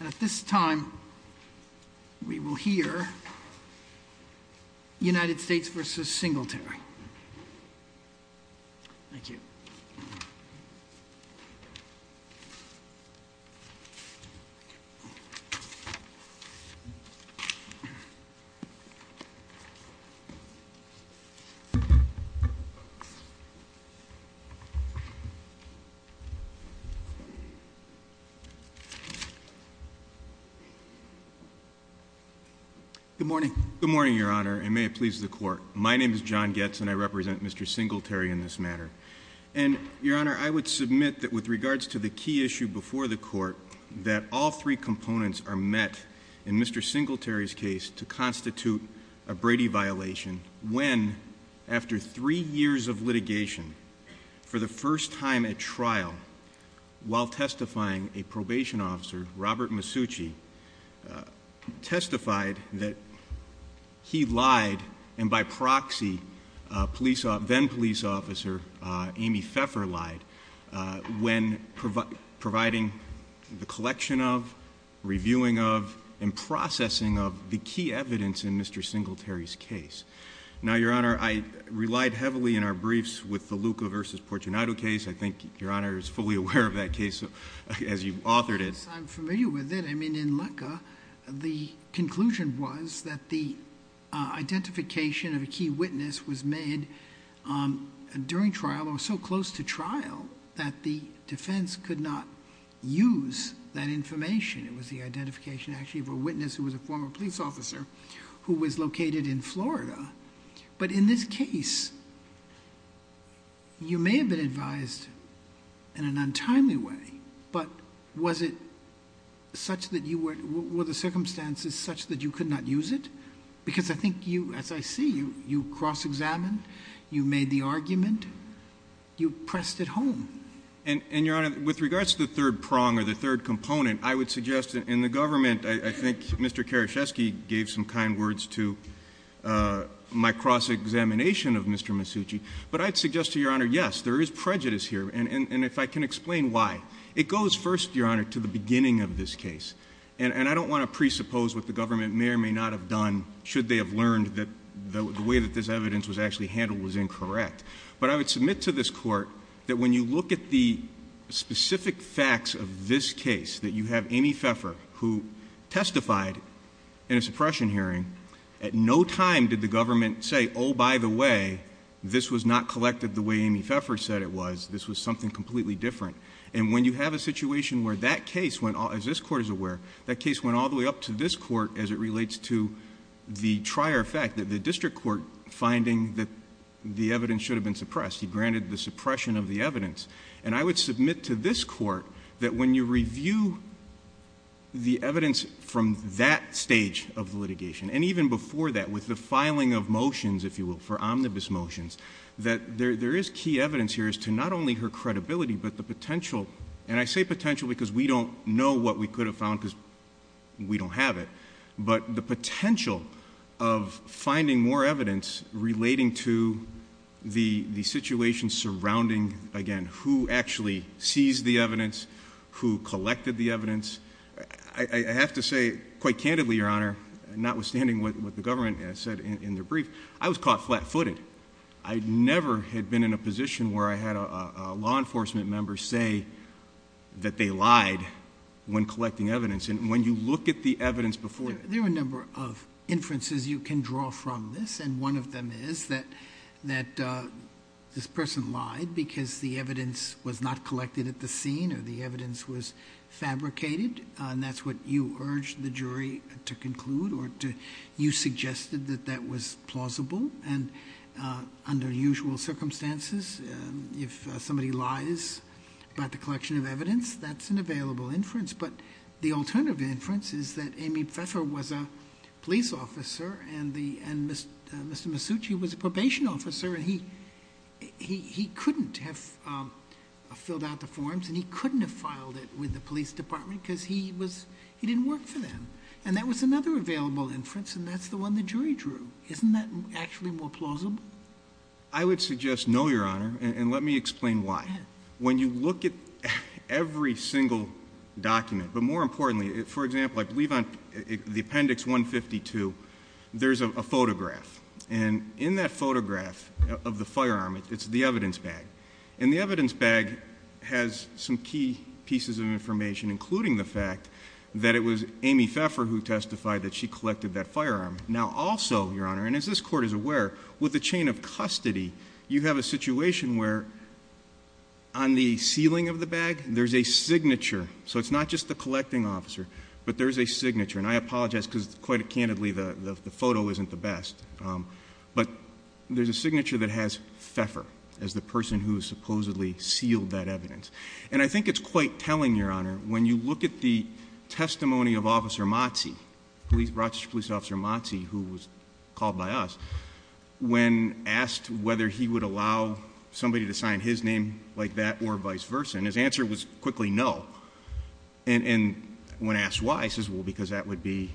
At this time, we will hear United States v. Singletary. Good morning, Your Honor, and may it please the Court. My name is John Goetz, and I represent Mr. Singletary in this matter. And Your Honor, I would submit that with regards to the key issue before the Court, that all three components are met in Mr. Singletary's case to constitute a Brady violation when, after three years of litigation, for the first time at trial, while testifying, a probation officer, Robert Masucci, testified that he lied, and by proxy, then-police officer Amy Pfeffer lied, when providing the collection of, reviewing of, and processing of the key evidence in Mr. Singletary's case. Now, Your Honor, I relied heavily in our briefs with the Luca v. Portunato case. I think Your Honor is fully aware of that case as you've authored it. Yes, I'm familiar with it. I mean, in Luca, the conclusion was that the identification of a key witness was made during trial or so close to trial that the defense could not use that information. It was the identification, actually, of a witness who was a former police officer who was located in Florida. But in this case, you may have been advised in an untimely way, but was it such that you were, were the circumstances such that you could not use it? Because I think you, as I see you, you cross-examined, you made the argument, you pressed it home. And Your Honor, with regards to the third prong or the third component, I would suggest in the government, I think Mr. Karaschewski gave some kind words to my cross-examination of Mr. Masucci. But I'd suggest to Your Honor, yes, there is prejudice here, and if I can explain why. It goes first, Your Honor, to the beginning of this case. And I don't want to presuppose what the government may or may not have done should they have learned that the way that this evidence was actually handled was incorrect. But I would submit to this Court that when you look at the specific facts of this case, that you have Amy Pfeffer who testified in a suppression hearing, at no time did the government say, oh, by the way, this was not collected the way Amy Pfeffer said it was. This was something completely different. And when you have a situation where that case went, as this Court is aware, that case went all the way up to this Court as it relates to the trier fact that the district court finding that the evidence should have been suppressed, he granted the suppression of the evidence. And I would submit to this Court that when you review the evidence from that stage of litigation, and even before that, with the filing of motions, if you will, for omnibus motions, that there is key evidence here as to not only her credibility, but the potential, and I say potential because we don't know what we could have found because we don't have it, but the potential of finding more evidence relating to the situation surrounding, again, who actually seized the evidence, who collected the evidence. I have to say, quite candidly, Your Honor, notwithstanding what the government has said in their brief, I was caught flat-footed. I never had been in a position where I had a law enforcement member say that they lied when collecting evidence. And when you look at the evidence before you... There are a number of inferences you can draw from this, and one of them is that this person lied because the evidence was not collected at the scene, or the evidence was fabricated. And that's what you urged the jury to conclude, or you suggested that that was plausible. And under usual circumstances, if somebody lies about the collection of evidence, that's an available inference. But the alternative inference is that Amy Pfeffer was a police officer, and Mr. Masucci was a probation officer, and he couldn't have filled out the forms, and he couldn't have filed it with the police department because he didn't work for them. And that was another available inference, and that's the one the jury drew. Isn't that actually more plausible? I would suggest no, Your Honor, and let me explain why. When you look at every single document, but more importantly, for example, I believe on the Appendix 152, there's a photograph. And in that photograph of the firearm, it's the evidence bag, and the evidence bag has some key pieces of information, including the fact that it was Amy Pfeffer who testified that she collected that firearm. Now also, Your Honor, and as this Court is aware, with the chain of custody, you have a situation where on the ceiling of the bag, there's a signature. So it's not just the collecting officer, but there's a signature. And I apologize, because quite candidly, the photo isn't the best. But there's a signature that has Pfeffer as the person who supposedly sealed that evidence. And I think it's quite telling, Your Honor, when you look at the testimony of Officer Motse, Rochester Police Officer Motse, who was called by us, when asked whether he would allow somebody to sign his name like that or vice versa, and his answer was quickly no. And when asked why, he says, well, because that would be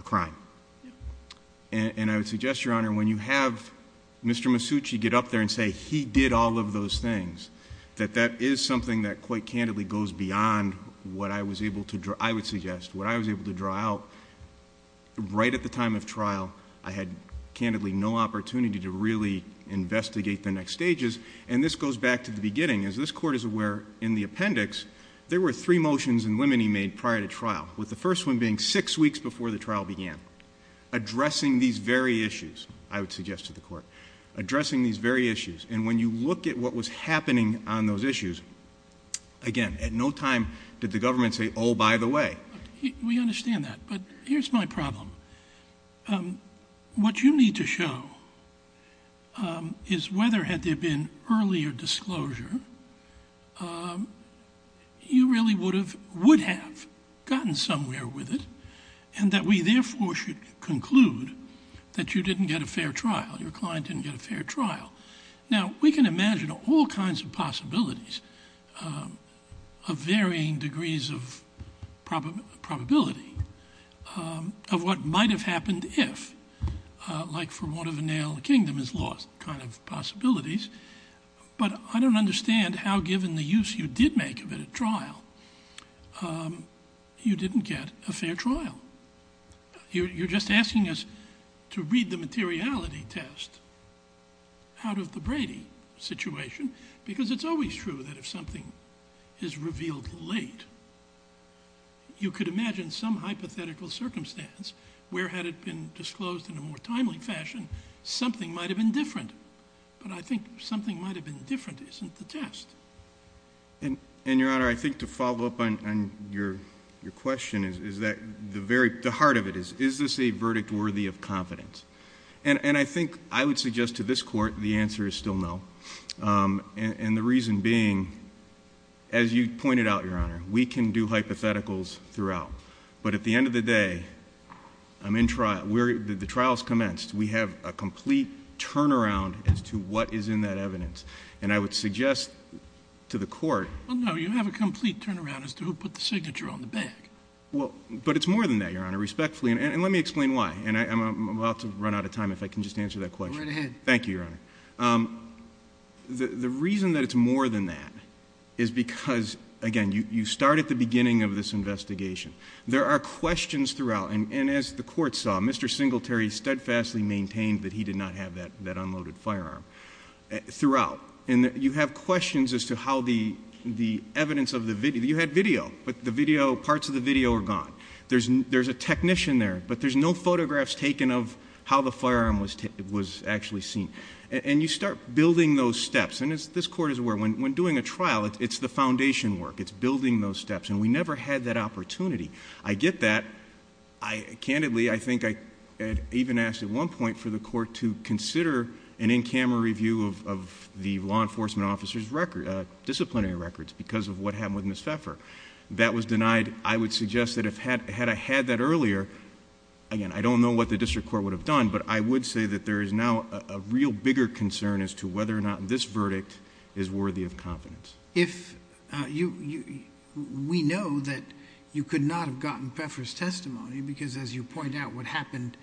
a crime. And I would suggest, Your Honor, when you have Mr. Masucci get up there and say he did all of those things, that that is something that quite candidly goes beyond what I was able to draw, I would suggest, what I was able to draw out right at the time of trial. I had candidly no opportunity to really investigate the next stages. And this goes back to the beginning. As this Court is aware, in the appendix, there were three motions and women he made prior to trial, with the first one being six weeks before the trial began, addressing these very issues, I would suggest to the Court, addressing these very issues. And when you look at what was happening on those issues, again, at no time did the government say, oh, by the way. We understand that. But here's my problem. What you need to show is whether had there been earlier disclosure, you really would have gotten somewhere with it, and that we therefore should conclude that you didn't get a fair trial, your client didn't get a fair trial. Now we can imagine all kinds of possibilities of varying degrees of probability of what might have happened if, like for want of a nail, the kingdom is lost kind of possibilities. But I don't understand how, given the use you did make of it at trial, you didn't get a fair trial. You're just asking us to read the materiality test out of the Brady situation, because it's always true that if something is revealed late, you could imagine some hypothetical circumstance where had it been disclosed in a more timely fashion, something might have been different. But I think something might have been different isn't the test. And Your Honor, I think to follow up on your question is that the heart of it is, is this a verdict worthy of confidence? And I think I would suggest to this Court the answer is still no, and the reason being, as you pointed out, Your Honor, we can do hypotheticals throughout. But at the end of the day, the trial has commenced. We have a complete turnaround as to what is in that evidence. And I would suggest to the Court... Well, no. You have a complete turnaround as to who put the signature on the bag. But it's more than that, Your Honor, respectfully. And let me explain why. And I'm about to run out of time if I can just answer that question. Go right ahead. Thank you, Your Honor. The reason that it's more than that is because, again, you start at the beginning of this investigation. There are questions throughout, and as the Court saw, Mr. Singletary steadfastly maintained that he did not have that unloaded firearm throughout. And you have questions as to how the evidence of the video, you had video, but the video, parts of the video are gone. There's a technician there, but there's no photographs taken of how the firearm was actually seen. And you start building those steps. And as this Court is aware, when doing a trial, it's the foundation work. It's building those steps. And we never had that opportunity. I get that. Candidly, I think I even asked at one point for the Court to consider an in-camera review of the law enforcement officer's disciplinary records because of what happened with Ms. Pfeffer. That was denied. I would suggest that had I had that earlier, again, I don't know what the district court would have done, but I would say that there is now a real bigger concern as to whether or not this verdict is worthy of confidence. If you, we know that you could not have gotten Pfeffer's testimony, because as you point out, what happened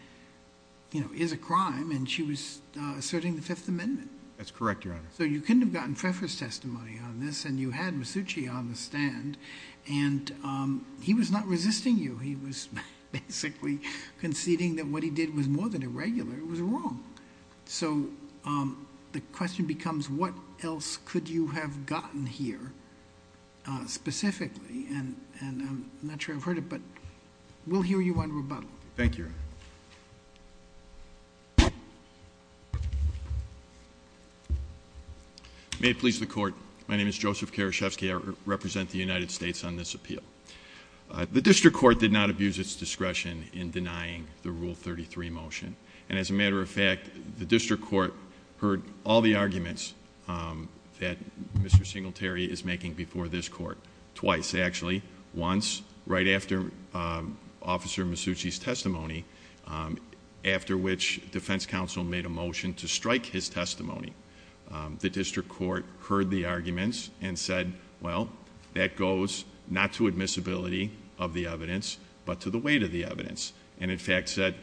is a crime, and she was asserting the Fifth Amendment. That's correct, Your Honor. So you couldn't have gotten Pfeffer's testimony on this, and you had Masucci on the stand. And he was not resisting you. He was basically conceding that what he did was more than irregular, it was wrong. So the question becomes, what else could you have gotten here, specifically, and I'm not sure I've heard it, but we'll hear you on rebuttal. Thank you, Your Honor. May it please the Court. My name is Joseph Karashevsky, I represent the United States on this appeal. The district court did not abuse its discretion in denying the Rule 33 motion. And as a matter of fact, the district court heard all the arguments that Mr. Singletary is making before this court, twice actually, once right after Officer Masucci's testimony, after which defense counsel made a motion to strike his testimony. The district court heard the arguments and said, well, that goes not to admissibility of the evidence, but to the weight of the evidence. And in fact said,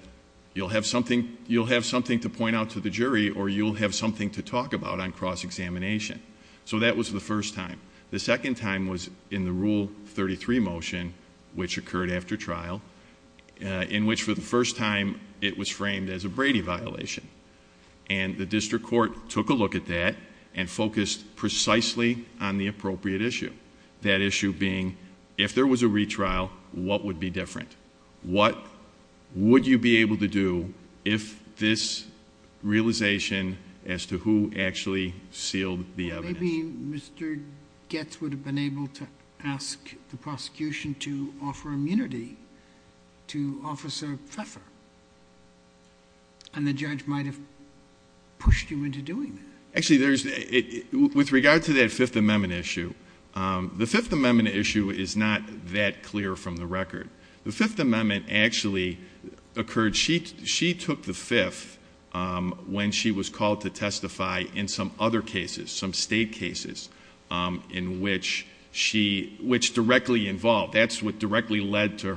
you'll have something to point out to the jury, or you'll have something to talk about on cross-examination. So that was the first time. The second time was in the Rule 33 motion, which occurred after trial, in which for the first time it was framed as a Brady violation. And the district court took a look at that, and focused precisely on the appropriate issue. That issue being, if there was a retrial, what would be different? What would you be able to do if this realization as to who actually sealed the evidence? Maybe Mr. Getz would have been able to ask the prosecution to offer immunity to Officer Pfeffer. And the judge might have pushed him into doing that. Actually, with regard to that Fifth Amendment issue, the Fifth Amendment issue is not that clear from the record. The Fifth Amendment actually occurred, she took the fifth when she was called to testify in some other cases, some state cases. In which she, which directly involved, that's what directly led to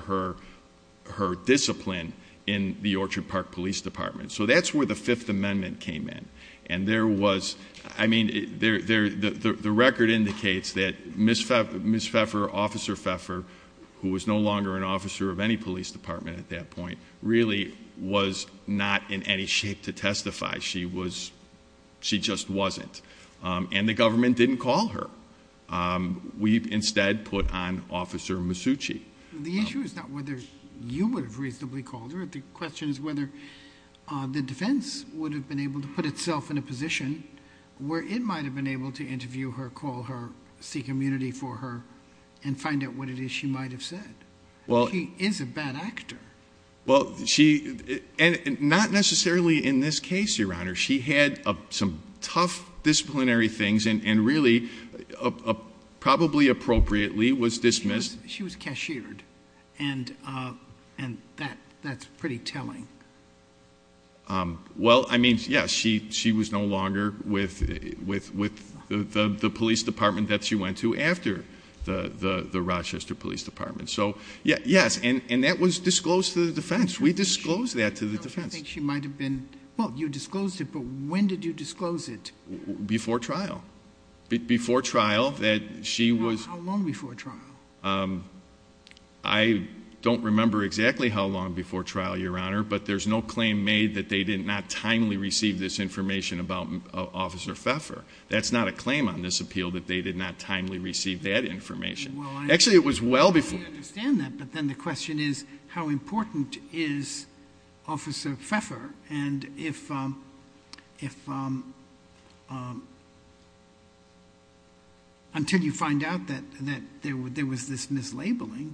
her discipline in the Orchard Park Police Department, so that's where the Fifth Amendment came in. And there was, I mean, the record indicates that Ms. Pfeffer, Officer Pfeffer, who was no longer an officer of any police department at that point, really was not in any shape to testify, she just wasn't. And the government didn't call her, we instead put on Officer Masucci. The issue is not whether you would have reasonably called her. The question is whether the defense would have been able to put itself in a position where it might have been able to interview her, call her, seek immunity for her, and find out what it is she might have said. She is a bad actor. Well, she, and not necessarily in this case, Your Honor. She had some tough disciplinary things and really, probably appropriately, was dismissed. She was cashiered, and that's pretty telling. Well, I mean, yes, she was no longer with the police department that she went to after the Rochester Police Department. So, yes, and that was disclosed to the defense. We disclosed that to the defense. I think she might have been, well, you disclosed it, but when did you disclose it? Before trial. Before trial, that she was- I don't remember exactly how long before trial, Your Honor, but there's no claim made that they did not timely receive this information about Officer Pfeffer. That's not a claim on this appeal, that they did not timely receive that information. Actually, it was well before- I understand that, but then the question is, how important is Officer Pfeffer? And if, until you find out that there was this mislabeling,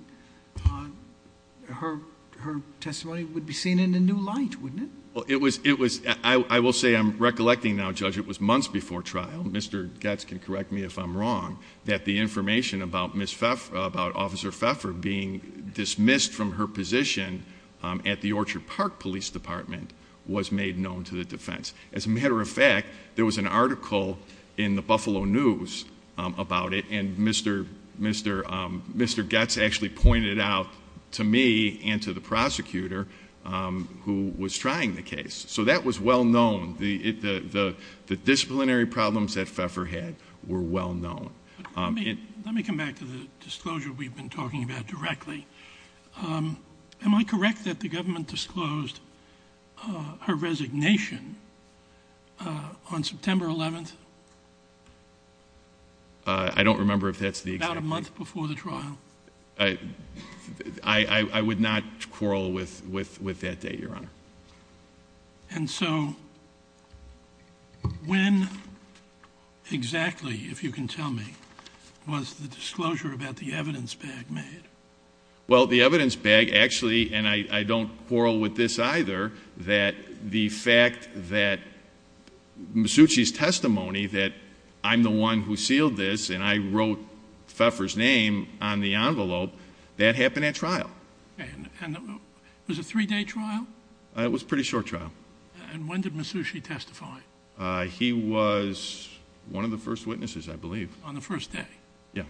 her testimony would be seen in a new light, wouldn't it? Well, it was, I will say, I'm recollecting now, Judge, it was months before trial, Mr. Gatz can correct me if I'm wrong, that the information about Officer Pfeffer being dismissed from her position at the Orchard Park Police Department was made known to the defense. As a matter of fact, there was an article in the Buffalo News about it, and Mr. Gatz actually pointed it out to me and to the prosecutor who was trying the case, so that was well known. The disciplinary problems that Pfeffer had were well known. Let me come back to the disclosure we've been talking about directly. Am I correct that the government disclosed her resignation on September 11th? I don't remember if that's the exact date. About a month before the trial. I would not quarrel with that date, Your Honor. And so, when exactly, if you can tell me, was the disclosure about the evidence bag made? Well, the evidence bag actually, and I don't quarrel with this either, that the fact that Masucci's testimony that I'm the one who sealed this, and I wrote Pfeffer's name on the envelope, that happened at trial. And it was a three day trial? It was a pretty short trial. And when did Masucci testify? He was one of the first witnesses, I believe. On the first day? Yeah.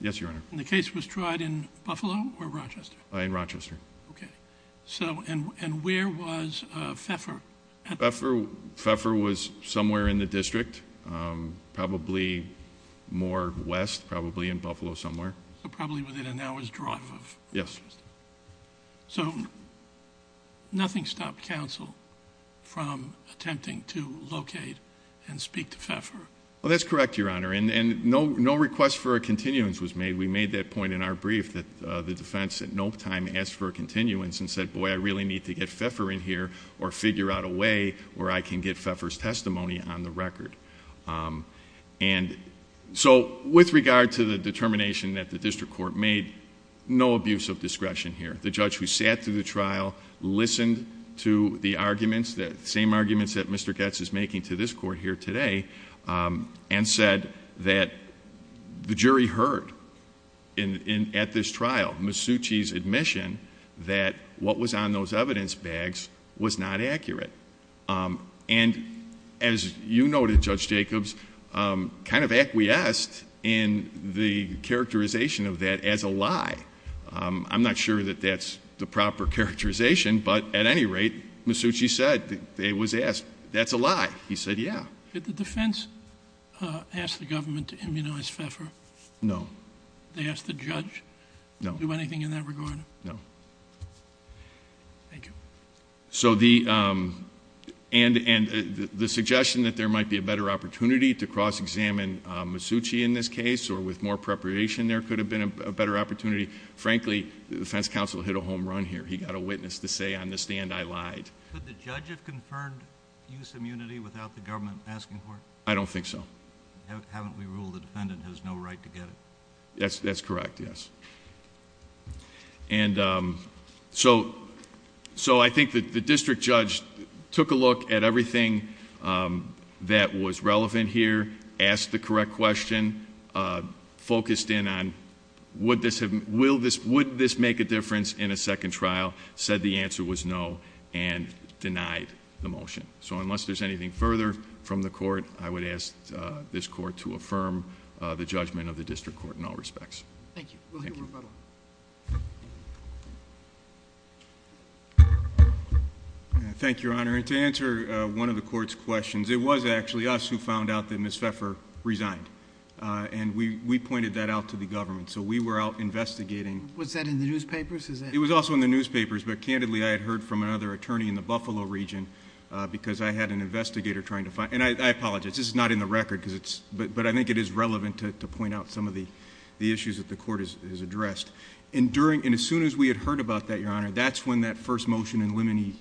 Yes, Your Honor. And the case was tried in Buffalo or Rochester? In Rochester. Okay. So, and where was Pfeffer? Pfeffer was somewhere in the district, probably more west, probably in Buffalo somewhere. So probably within an hour's drive of- Yes. So, nothing stopped counsel from attempting to locate and speak to Pfeffer? Well, that's correct, Your Honor. And no request for a continuance was made. We made that point in our brief, that the defense at no time asked for a continuance and said, boy, I really need to get Pfeffer in here or figure out a way where I can get Pfeffer's testimony on the record. And so, with regard to the determination that the district court made, no abuse of discretion here. The judge who sat through the trial, listened to the arguments, the same arguments that Mr. Goetz is making to this court here today, and said that the jury heard at this trial, Misucci's admission that what was on those evidence bags was not accurate. And as you noted, Judge Jacobs, kind of acquiesced in the characterization of that as a lie. I'm not sure that that's the proper characterization, but at any rate, Misucci said, it was asked, that's a lie. He said, yeah. Did the defense ask the government to immunize Pfeffer? No. They asked the judge? No. Do anything in that regard? No. Thank you. So the, and the suggestion that there might be a better opportunity to cross examine Misucci in this case, or with more preparation there could have been a better opportunity, frankly, the defense counsel hit a home run here. He got a witness to say on the stand, I lied. Could the judge have confirmed use immunity without the government asking for it? I don't think so. Haven't we ruled the defendant has no right to get it? Yes, that's correct, yes. And so I think that the district judge took a look at everything that was relevant here, asked the correct question, focused in on, would this make a difference in a second trial, said the answer was no. And denied the motion. So unless there's anything further from the court, I would ask this court to affirm the judgment of the district court in all respects. Thank you. We'll hear rebuttal. Thank you, Your Honor. And to answer one of the court's questions, it was actually us who found out that Ms. Pfeffer resigned. And we pointed that out to the government. So we were out investigating. Was that in the newspapers? It was also in the newspapers, but candidly, I had heard from another attorney in the Buffalo region, because I had an investigator trying to find. And I apologize, this is not in the record, but I think it is relevant to point out some of the issues that the court has addressed. And as soon as we had heard about that, Your Honor, that's when that first motion in limine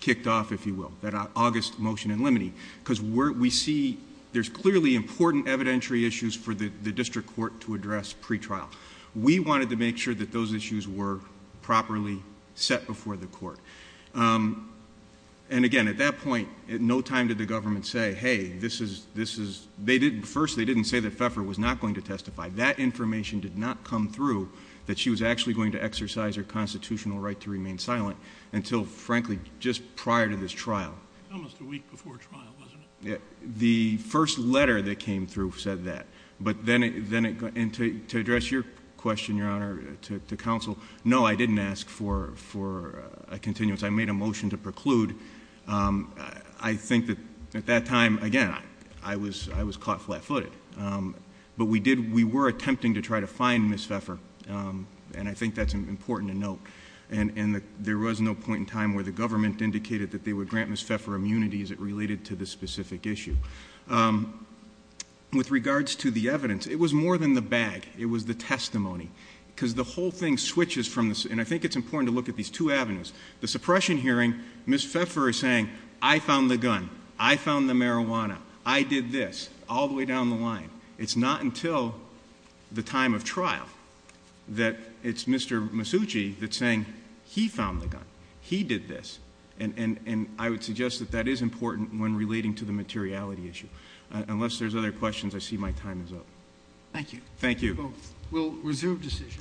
kicked off, if you will, that August motion in limine. because we see there's clearly important evidentiary issues for the district court to address pre-trial. We wanted to make sure that those issues were properly set before the court. And again, at that point, at no time did the government say, hey, first, they didn't say that Pfeffer was not going to testify. That information did not come through that she was actually going to exercise her constitutional right to remain silent until, frankly, just prior to this trial. Almost a week before trial, wasn't it? The first letter that came through said that. But then it, and to address your question, Your Honor, to counsel, no, I didn't ask for a continuance. I made a motion to preclude. I think that at that time, again, I was caught flat-footed. But we were attempting to try to find Ms. Pfeffer, and I think that's important to note. And there was no point in time where the government indicated that they would grant Ms. Pfeffer immunity as it related to this specific issue. With regards to the evidence, it was more than the bag. It was the testimony, because the whole thing switches from this, and I think it's important to look at these two avenues. The suppression hearing, Ms. Pfeffer is saying, I found the gun. I found the marijuana. I did this, all the way down the line. It's not until the time of trial that it's Mr. Masucci that's saying, he found the gun. He did this. And I would suggest that that is important when relating to the materiality issue. Unless there's other questions, I see my time is up. Thank you. Thank you. We'll resume decision.